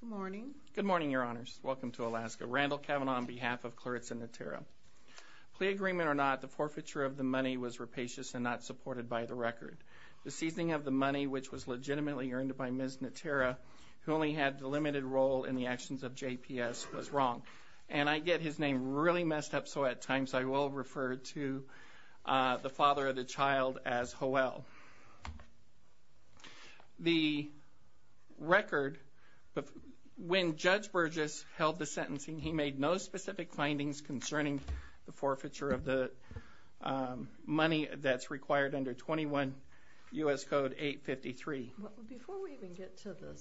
Good morning. Good morning, Your Honors. Welcome to Alaska. Randall Cavanaugh on behalf of Claritza Natera. Plea agreement or not, the forfeiture of the money was rapacious and not supported by the record. The seizing of the money, which was legitimately earned by Ms. Natera, who only had a limited role in the actions of JPS, was wrong. And I get his name really well. The record, when Judge Burgess held the sentencing, he made no specific findings concerning the forfeiture of the money that's required under 21 U.S. Code 853. Before we even get to the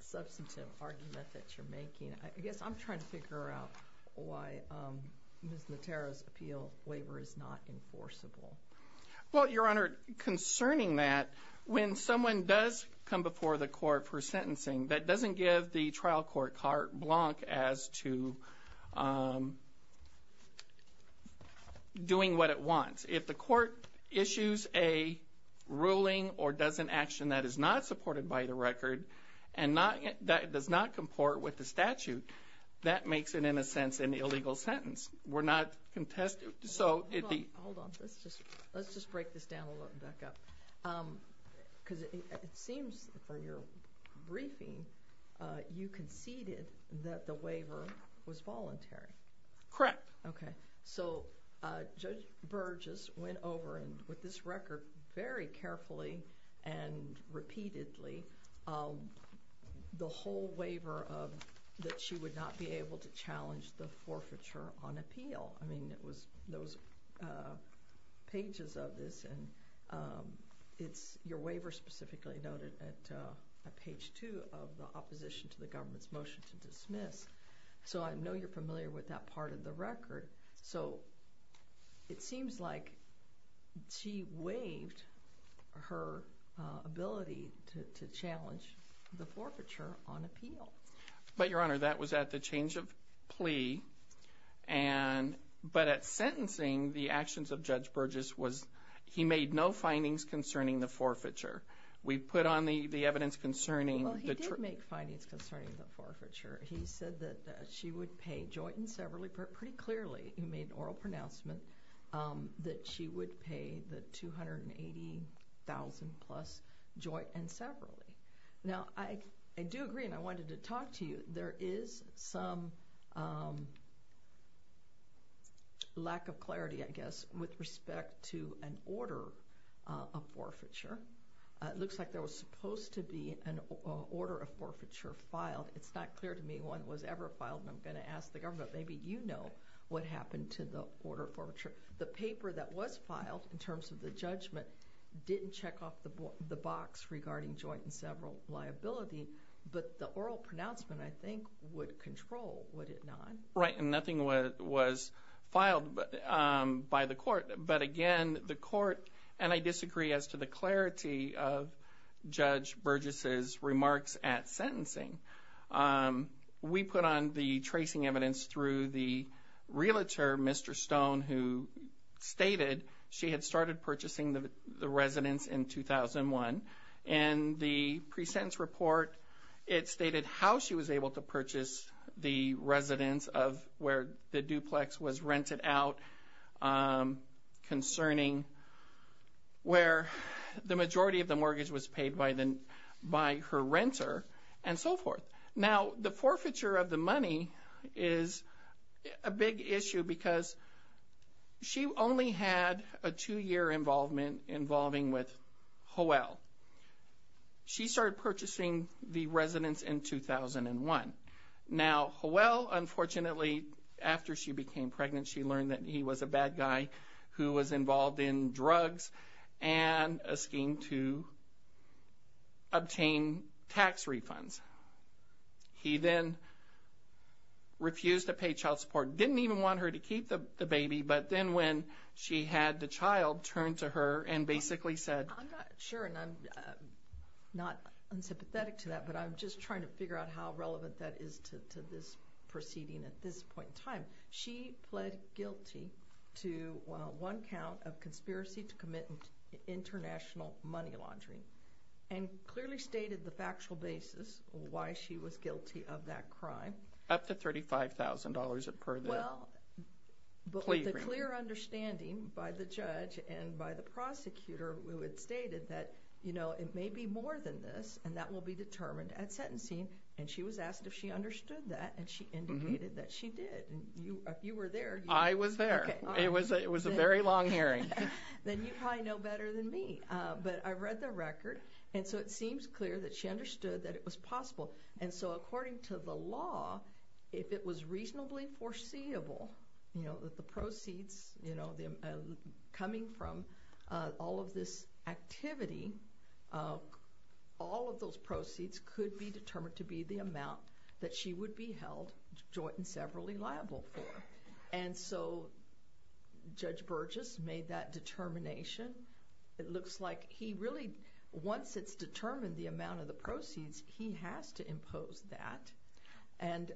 substantive argument that you're making, I guess I'm trying to Your Honor, concerning that, when someone does come before the court for sentencing, that doesn't give the trial court carte blanche as to doing what it wants. If the court issues a ruling or does an action that is not supported by the record and does not comport with the record, I'm going to break this down a little and back up. Because it seems for your briefing, you conceded that the waiver was voluntary. Correct. Okay. So Judge Burgess went over and with this record, very carefully and repeatedly, the whole waiver that she would not be able to challenge the forfeiture on appeal. I mean, it was those pages of this and it's your waiver specifically noted at page two of the opposition to the government's motion to dismiss. So I know you're familiar with that part of the record. So it seems like she waived her ability to challenge the forfeiture on appeal. But Your Honor, that was at the change of plea. But at sentencing, the actions of Judge Burgess was, he made no findings concerning the forfeiture. We put on the evidence concerning Well, he did make findings concerning the forfeiture. He said that she would pay joint and severally, pretty clearly, he made an oral pronouncement, that she would pay the $280,000 plus joint and severally. Now, I do agree and I wanted to talk to you. There is some lack of clarity, I guess, with respect to an order of forfeiture. It looks like there was supposed to be an order of forfeiture filed. It's not clear to me when it was ever filed and I'm going to ask the government, maybe you know what happened to the order of forfeiture. The paper that was filed in the box regarding joint and several liability, but the oral pronouncement, I think, would control, would it not? Right, and nothing was filed by the court. But again, the court, and I disagree as to the clarity of Judge Burgess' remarks at sentencing. We put on the tracing evidence through the realtor, Mr. Stone, who stated she had started purchasing the residence in 2001. In the pre-sentence report, it stated how she was able to purchase the residence of where the duplex was rented out concerning where the majority of the mortgage was paid by her renter and so forth. Now, the forfeiture of the money is a big issue because she only had a two-year involvement involving with Howell. She started purchasing the residence in 2001. Now, Howell, unfortunately, after she became pregnant, she learned that he was a bad guy who was involved in drugs and a scheme to obtain tax refunds. He then refused to pay child support, didn't even want her to keep the baby, but then when she had the child, turned to her and basically said... I'm not sure, and I'm not unsympathetic to that, but I'm just trying to figure out how relevant that is to this proceeding at this point in time. She pled guilty to one count of conspiracy to commit international money laundering and clearly stated the factual basis of why she was guilty of that crime. Up to $35,000 per the plea agreement. Well, but with a clear understanding by the judge and by the prosecutor who had stated that, you know, it may be more than this and that will be determined at sentencing, and she was asked if she understood that, and she indicated that she did. If you were there... I was there. It was a very long hearing. Then you probably know better than me, but I read the record, and so it seems clear that she understood that it was possible, and so according to the law, if it was reasonably foreseeable, you know, that the proceeds, you know, coming from all of this activity, all of those proceeds could be determined to be the amount that she would be held joint and severally liable for. And so Judge Burgess made that determination. It looks like he really, once it's determined the amount of the proceeds, he has to impose that, and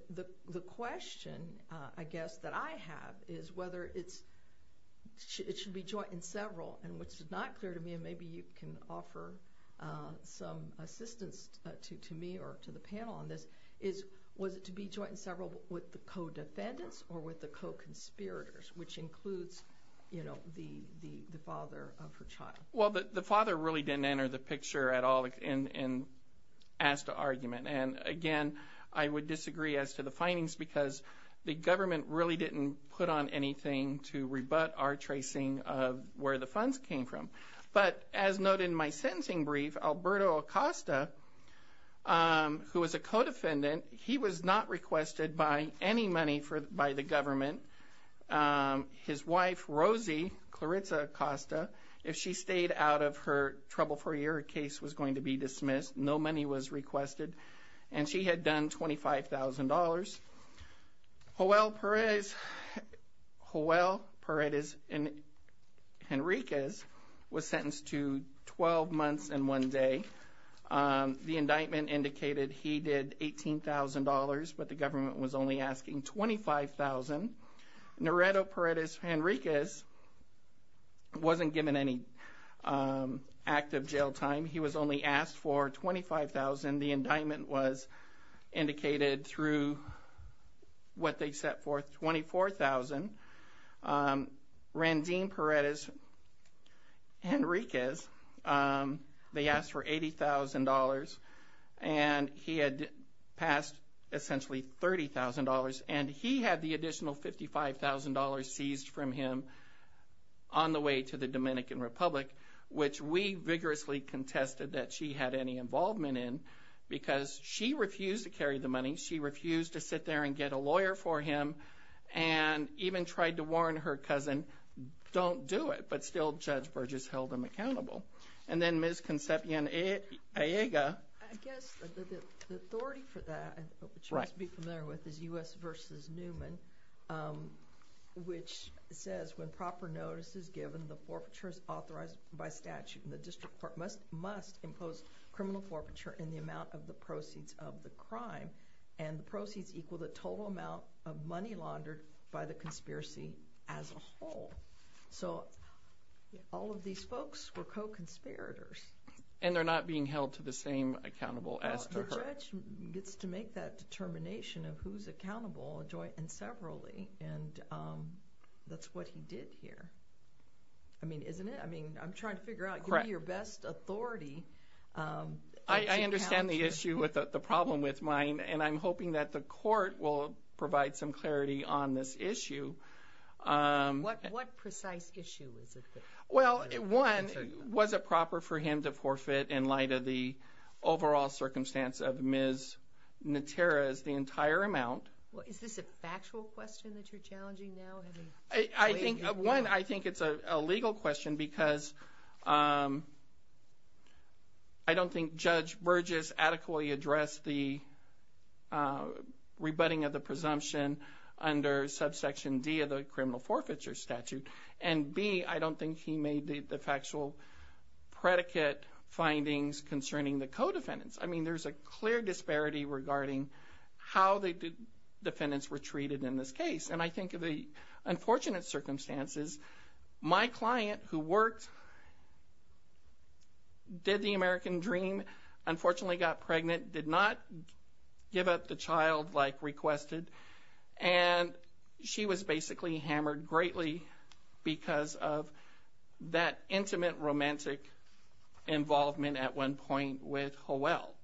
the question, I guess, that I have is whether it should be joint and several, and what's not clear to me, and maybe you can offer some assistance to me or to the panel on this, is was it to be joint and several with the co-defendants or with the co-conspirators, which includes, you know, the father of her child? Well, the father really didn't enter the picture at all in Asda argument, and again, I would disagree as to the findings because the government really didn't put on anything to rebut our tracing of where the funds came from. But as noted in my sentencing brief, Alberto Acosta, who was a co-defendant, he was not requested by any money by the government. His wife, Rosie Claritza Acosta, if she stayed out of her trouble for a year, her case was going to be dismissed. No money was requested, and she had done $25,000. Joel Paredes Henriquez was sentenced to 12 months and one day. The indictment indicated he did $18,000, but the government was only asking $25,000. Noreto Paredes Henriquez wasn't given any active jail time. He was only asked for $25,000. The indictment was indicated through what Dean Paredes Henriquez, they asked for $80,000, and he had passed essentially $30,000, and he had the additional $55,000 seized from him on the way to the Dominican Republic, which we vigorously contested that she had any involvement in because she refused to carry the money. She refused to sit there and get a lawyer for him and even tried to don't do it, but still Judge Burgess held him accountable. And then Ms. Concepcion Aiga. I guess the authority for that, which you must be familiar with, is U.S. v. Newman, which says when proper notice is given, the forfeiture is authorized by statute, and the district court must impose criminal forfeiture in the amount of the proceeds of the crime, and the proceeds equal the total amount of money laundered by the conspiracy as a whole. So, all of these folks were co-conspirators. And they're not being held to the same accountable as to her. The judge gets to make that determination of who's accountable and severally, and that's what he did here. I mean, isn't it? I mean, I'm trying to and I'm hoping that the court will provide some clarity on this issue. What precise issue is it? Well, one, was it proper for him to forfeit in light of the overall circumstance of Ms. Natera's, the entire amount? Is this a factual question that you're challenging now? One, I think it's a legal question because I don't think Judge Burgess adequately addressed the rebutting of the presumption under subsection D of the criminal forfeiture statute. And B, I don't think he made the factual predicate findings concerning the co-defendants. I mean, there's a clear disparity regarding how the defendants were treated in this case. And I think of the unfortunate circumstances, my client who worked, did the American dream, unfortunately got pregnant, did not give up the child like requested, and she was basically hammered greatly because of that intimate romantic involvement at one point with Howell.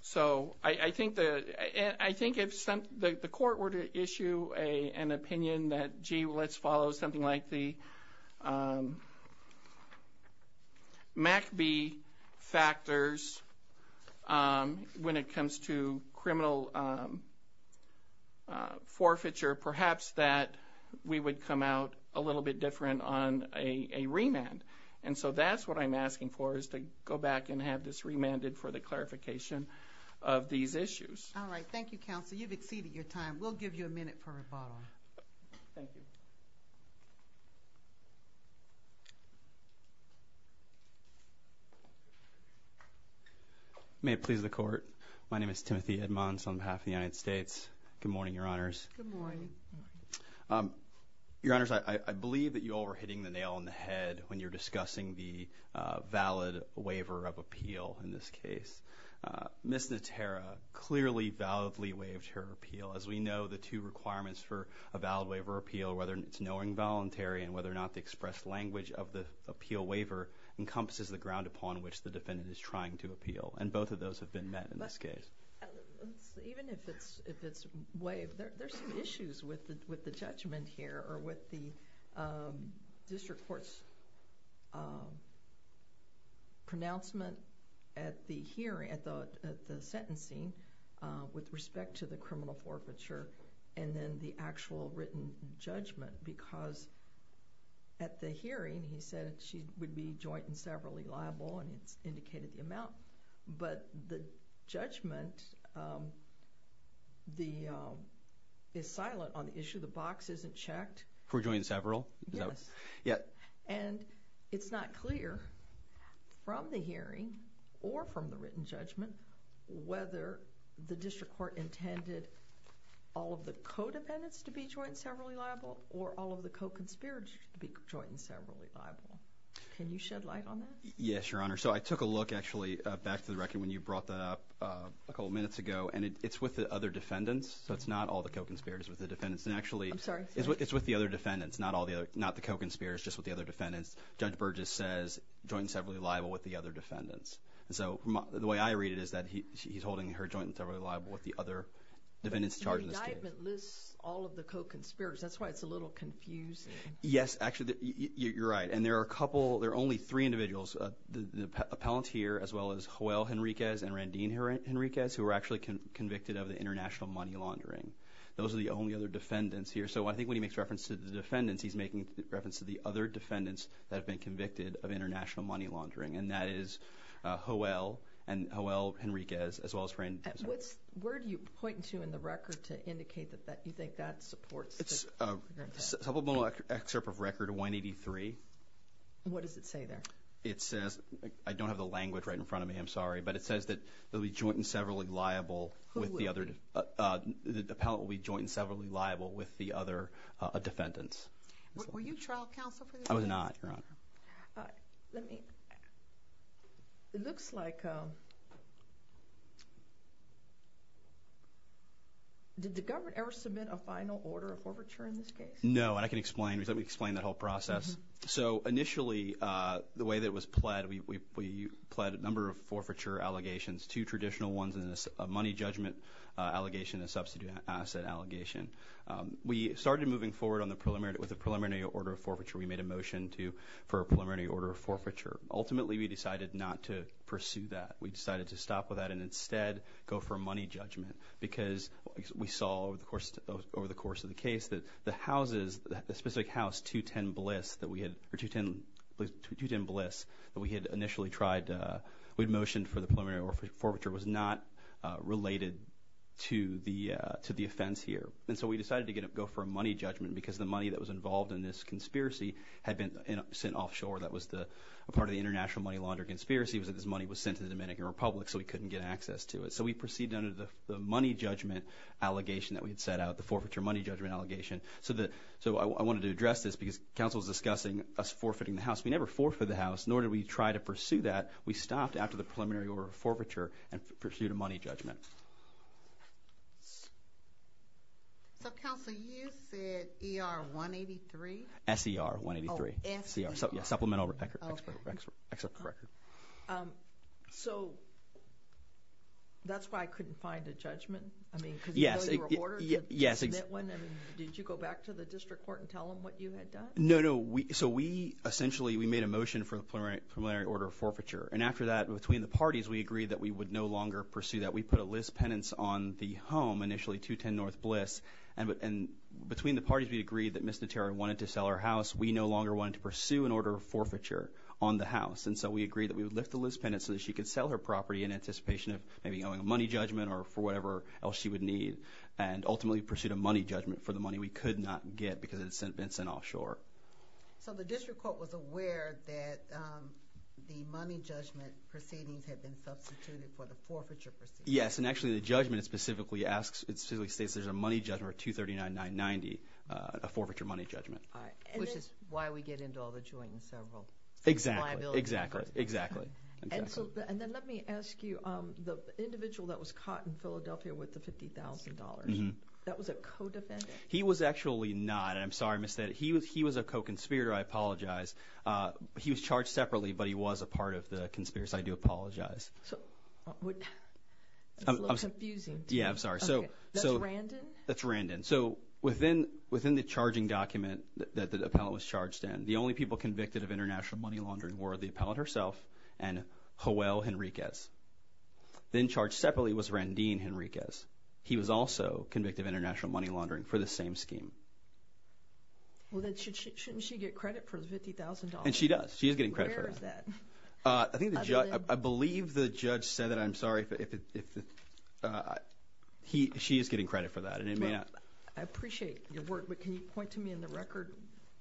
So, I think if the court were to issue an opinion that, gee, let's follow something like the MACB factors when it comes to criminal forfeiture, perhaps that we would come out a little bit different on a remand. And so that's what I'm asking for is to go back and have this remanded for the clarification of these issues. All right. Thank you, Counsel. You've exceeded your time. We'll give you a minute for rebuttal. Thank you. May it please the Court, my name is Timothy Edmonds on behalf of the United States. Good morning, Your Honors. Good morning. Your Honors, I believe that you all were hitting the nail on the head when you were discussing the valid waiver of appeal in this case. Ms. Natera clearly validly waived her appeal. As we know, the two requirements for a valid waiver of appeal, whether it's knowing voluntary and whether or not the expressed language of the appeal waiver encompasses the ground upon which the defendant is trying to appeal. And both of those have been met in this case. Even if it's waived, there's some issues with the judgment here or with the district court's pronouncement at the hearing, at the sentencing, with respect to the criminal forfeiture, and then the actual written judgment. Because at the hearing, he said she would be joint and severally liable, and he indicated the amount. But the judgment is silent on the issue. The box isn't checked. For joint and several? Yes. And it's not clear from the hearing or from the written judgment whether the district court intended all of the codependents to be joint and severally liable or all of the co-conspirators to be joint and severally liable. Can you shed light on that? Yes, Your Honor. So I took a look, actually, back to the record when you brought that up a couple of minutes ago, and it's with the other defendants. So it's not all the co-conspirators with the defendants. I'm sorry. It's with the other defendants, not the co-conspirators, just with the other defendants. Judge Burgess says joint and severally liable with the other defendants. So the way I read it is that he's holding her joint and severally liable with the other defendants charged in this case. The indictment lists all of the co-conspirators. That's why it's a little confusing. Yes, actually. You're right. And there are only three individuals, the appellant here as well as Joel Henriquez and Randine Henriquez who were actually convicted of the international money laundering. Those are the only other defendants here. So I think when he makes reference to the defendants, he's making reference to the other defendants that have been convicted of international money laundering, and that is Joel and Joel Henriquez as well as Randine. Where do you point to in the record to indicate that you think that supports your intent? Supplemental excerpt of record 183. What does it say there? It says, I don't have the language right in front of me, I'm sorry, but it says that the appellant will be joint and severally liable with the other defendants. Were you trial counsel for this case? I was not, Your Honor. Let me, it looks like, did the government ever submit a final order of forfeiture in this case? No, and I can explain. Let me explain that whole process. So initially, the way that it was pled, we pled a number of forfeiture allegations, two traditional ones and a money judgment allegation and a substitute asset allegation. We started moving forward with a preliminary order of forfeiture. We made a motion for a preliminary order of forfeiture. Ultimately, we decided not to pursue that. We decided to stop with that and instead go for a money judgment because we saw over the course of the case that the houses, the specific house 210 Bliss that we had initially tried, we had motioned for the preliminary order of forfeiture was not related to the offense here. And so we decided to go for a money judgment because the money that was involved in this conspiracy had been sent offshore. That was a part of the international money laundering conspiracy was that this money was sent to the Dominican Republic so we couldn't get access to it. So we proceeded under the money judgment allegation that we had set out, the forfeiture money judgment allegation. So I wanted to address this because counsel was discussing us forfeiting the house. We never forfeited the house, nor did we try to pursue that. We stopped after the preliminary order of forfeiture and pursued a money judgment. So, counsel, you said ER 183? SER 183. Oh, SER. Supplemental record. Okay. So that's why I couldn't find a judgment? I mean, because you know you were ordered to submit one? Yes. Did you go back to the district court and tell them what you had done? No, no. So we essentially made a motion for the preliminary order of forfeiture, and after that between the parties we agreed that we would no longer pursue that. We put a list penance on the home initially, 210 North Bliss, and between the parties we agreed that Ms. Notera wanted to sell her house. We no longer wanted to pursue an order of forfeiture on the house, and so we agreed that we would lift the list penance so that she could sell her property in anticipation of maybe going on a money judgment or for whatever else she would need and ultimately pursue a money judgment for the money we could not get because it had been sent offshore. So the district court was aware that the money judgment proceedings had been substituted for the forfeiture proceedings? Yes, and actually the judgment specifically states there's a money judgment for 239, 990, a forfeiture money judgment. All right, which is why we get into all the joint and several liabilities. Exactly, exactly. And then let me ask you, the individual that was caught in Philadelphia with the $50,000, that was a co-defendant? He was actually not. I'm sorry, Ms. Thede. He was a co-conspirator. I apologize. He was charged separately, but he was a part of the conspiracy. I do apologize. That's a little confusing. Yeah, I'm sorry. That's Randin? That's Randin. So within the charging document that the appellant was charged in, the only people convicted of international money laundering were the appellant herself and Joel Henriquez. Then charged separately was Randin Henriquez. He was also convicted of international money laundering for the same scheme. Well, then shouldn't she get credit for the $50,000? And she does. She is getting credit for that. Where is that? I believe the judge said that. I'm sorry. She is getting credit for that. I appreciate your work, but can you point to me in the record?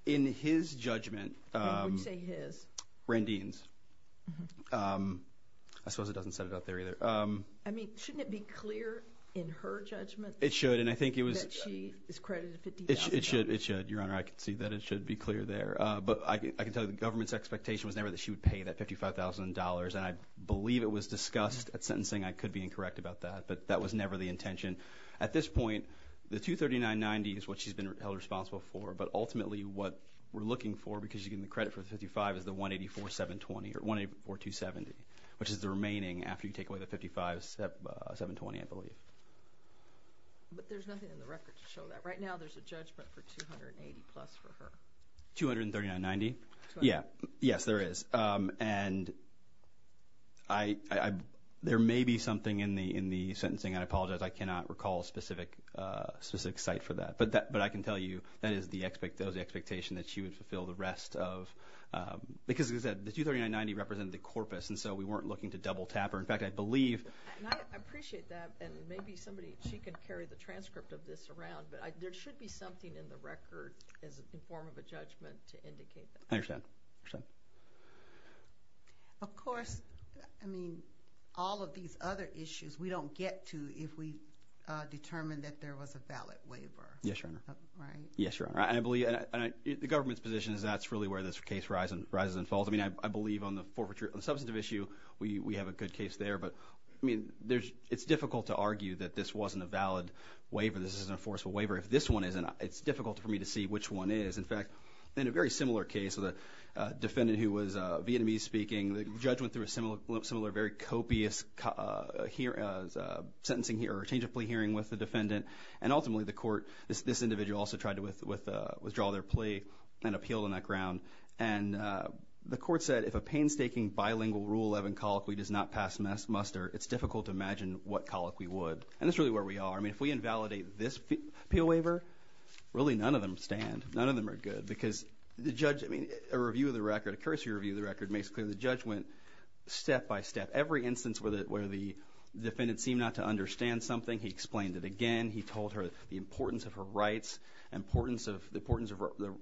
In his judgment. When you say his? Randin's. I suppose it doesn't set it up there either. I mean, shouldn't it be clear in her judgment that she is credited $50,000? It should. Your Honor, I can see that it should be clear there. But I can tell you the government's expectation was never that she would pay that $55,000, and I believe it was discussed at sentencing. I could be incorrect about that, but that was never the intention. At this point, the $239.90 is what she's been held responsible for, but ultimately what we're looking for because she's getting the credit for the $55,000 is the $184,270, which is the remaining after you take away the $55,720, I believe. But there's nothing in the record to show that. Right now there's a judgment for $280,000-plus for her. $239.90? Yes, there is. And there may be something in the sentencing. I apologize. I cannot recall a specific site for that. But I can tell you that is the expectation that she would fulfill the rest of because the $239.90 represented the corpus, and so we weren't looking to double-tap her. In fact, I believe. I appreciate that, and maybe she can carry the transcript of this around, but there should be something in the record in form of a judgment to indicate that. I understand. Of course, I mean, all of these other issues we don't get to if we determine that there was a valid waiver. Yes, Your Honor. Right. Yes, Your Honor. The government's position is that's really where this case rises and falls. I mean, I believe on the substantive issue we have a good case there. But, I mean, it's difficult to argue that this wasn't a valid waiver, this isn't a forceful waiver. If this one isn't, it's difficult for me to see which one is. In fact, in a very similar case with a defendant who was Vietnamese-speaking, and ultimately the court, this individual also tried to withdraw their plea and appeal on that ground, and the court said if a painstaking bilingual Rule 11 colloquy does not pass muster, it's difficult to imagine what colloquy would. And that's really where we are. I mean, if we invalidate this appeal waiver, really none of them stand. None of them are good because the judge, I mean, a review of the record, a cursory review of the record, makes it clear the judge went step by step. Every instance where the defendant seemed not to understand something, he explained it again. He told her the importance of her rights, the importance of the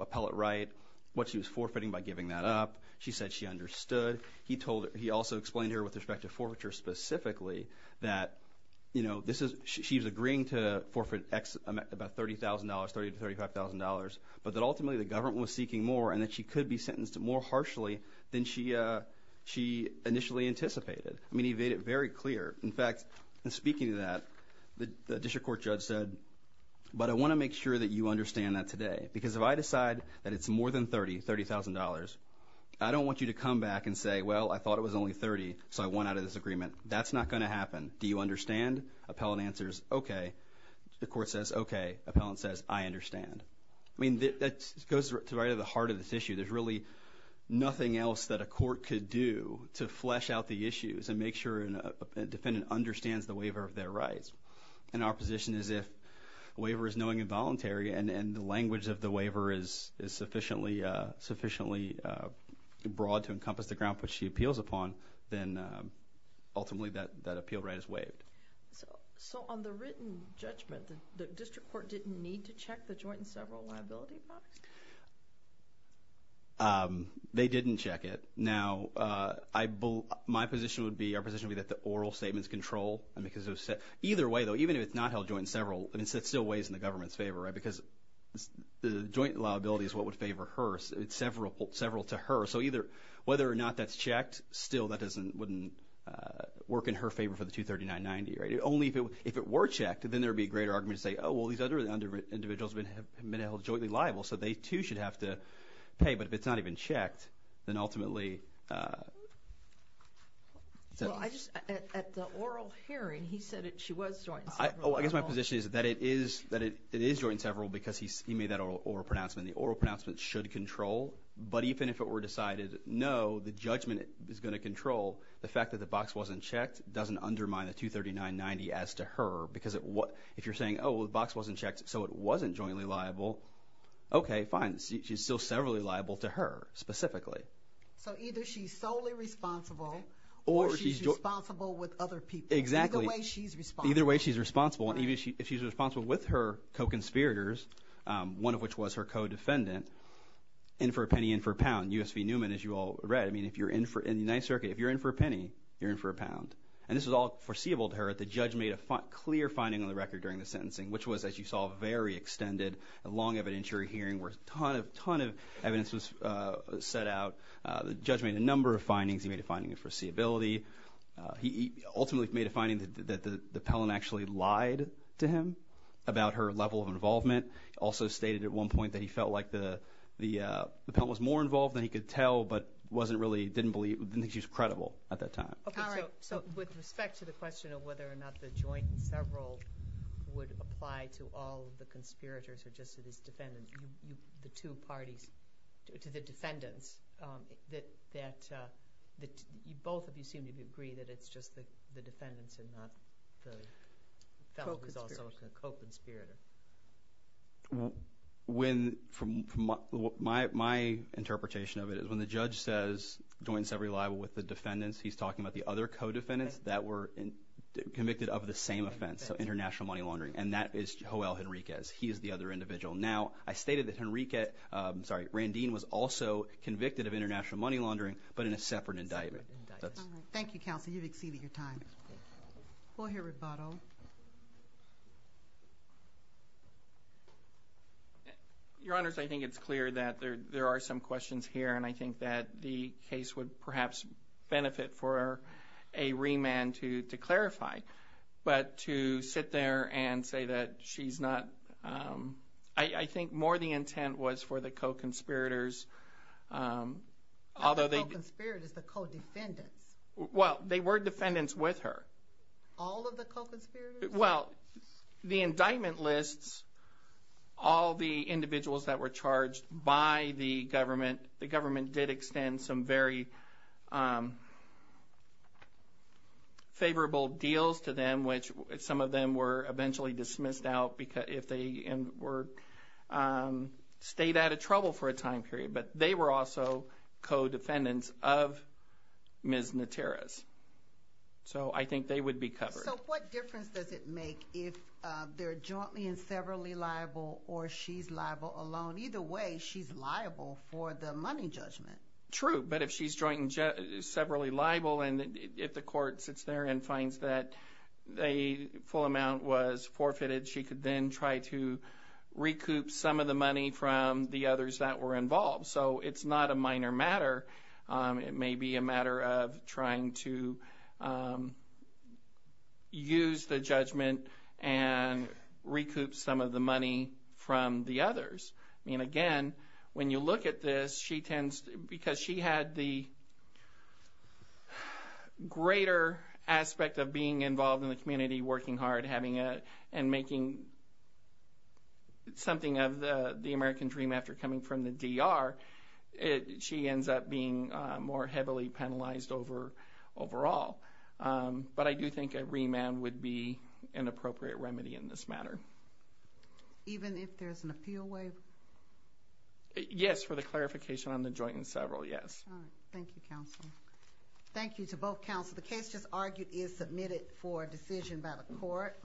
appellate right, what she was forfeiting by giving that up. She said she understood. He also explained to her with respect to forfeiture specifically that, you know, she was agreeing to forfeit about $30,000, $30,000 to $35,000, but that ultimately the government was seeking more and that she could be sentenced more harshly than she initially anticipated. I mean, he made it very clear. In fact, in speaking to that, the district court judge said, but I want to make sure that you understand that today because if I decide that it's more than $30,000, I don't want you to come back and say, well, I thought it was only $30,000, so I want out of this agreement. That's not going to happen. Do you understand? Appellant answers, okay. The court says, okay. Appellant says, I understand. I mean, that goes right to the heart of this issue. There's really nothing else that a court could do to flesh out the issues and make sure a defendant understands the waiver of their rights. And our position is if a waiver is knowing and voluntary and the language of the waiver is sufficiently broad to encompass the ground for which she appeals upon, then ultimately that appeal right is waived. So on the written judgment, the district court didn't need to check the joint and several liability box? They didn't check it. Now, my position would be, our position would be that the oral statements control. Either way, though, even if it's not held joint and several, it still weighs in the government's favor because the joint liability is what would favor her, several to her. So whether or not that's checked, still that wouldn't work in her favor for the $239.90. Only if it were checked, then there would be a greater argument to say, oh, well, these other individuals have been held jointly liable, so they, too, should have to pay. But if it's not even checked, then ultimately. At the oral hearing, he said she was joint and several. I guess my position is that it is joint and several because he made that oral pronouncement. And the oral pronouncement should control. But even if it were decided, no, the judgment is going to control. The fact that the box wasn't checked doesn't undermine the $239.90 as to her because if you're saying, oh, well, the box wasn't checked, so it wasn't jointly liable, okay, fine. She's still severally liable to her specifically. So either she's solely responsible or she's responsible with other people. Exactly. Either way, she's responsible. Either way, she's responsible. Even if she's responsible with her co-conspirators, one of which was her co-defendant, in for a penny, in for a pound, U.S. v. Newman, as you all read. I mean, if you're in the United Circuit, if you're in for a penny, you're in for a pound. And this was all foreseeable to her. The judge made a clear finding on the record during the sentencing, which was, as you saw, a very extended and long evidentiary hearing where a ton of evidence was set out. The judge made a number of findings. He made a finding of foreseeability. He ultimately made a finding that the pellant actually lied to him about her level of involvement. He also stated at one point that he felt like the pellant was more involved than he could tell but didn't think she was credible at that time. Okay, so with respect to the question of whether or not the joint and several would apply to all of the conspirators or just to these defendants, the two parties, to the defendants, that both of you seem to agree that it's just the defendants and not the fellow who's also a co-conspirator. Well, my interpretation of it is when the judge says joint and several are liable with the defendants, he's talking about the other co-defendants that were convicted of the same offense, so international money laundering, and that is Joel Henriquez. He is the other individual. Now, I stated that Henriquez, I'm sorry, Randine was also convicted of international money laundering but in a separate indictment. Thank you, counsel. You've exceeded your time. We'll hear rebuttal. Your Honors, I think it's clear that there are some questions here, and I think that the case would perhaps benefit for a remand to clarify. But to sit there and say that she's not, I think more the intent was for the co-conspirators. Not the co-conspirators, the co-defendants. Well, they were defendants with her. All of the co-conspirators? Well, the indictment lists all the individuals that were charged by the government. I think that the government did extend some very favorable deals to them, which some of them were eventually dismissed out if they were stayed out of trouble for a time period. But they were also co-defendants of Ms. Naterrez. So I think they would be covered. So what difference does it make if they're jointly and severally liable or she's liable alone? Either way, she's liable for the money judgment. True, but if she's jointly and severally liable, and if the court sits there and finds that a full amount was forfeited, she could then try to recoup some of the money from the others that were involved. So it's not a minor matter. It may be a matter of trying to use the judgment and recoup some of the money from the others. I mean, again, when you look at this, because she had the greater aspect of being involved in the community, working hard and making something of the American dream after coming from the DR, she ends up being more heavily penalized overall. But I do think a remand would be an appropriate remedy in this matter. Even if there's an appeal waiver? Yes, for the clarification on the joint and several, yes. All right. Thank you, counsel. Thank you to both counsel. The case just argued is submitted for decision by the court.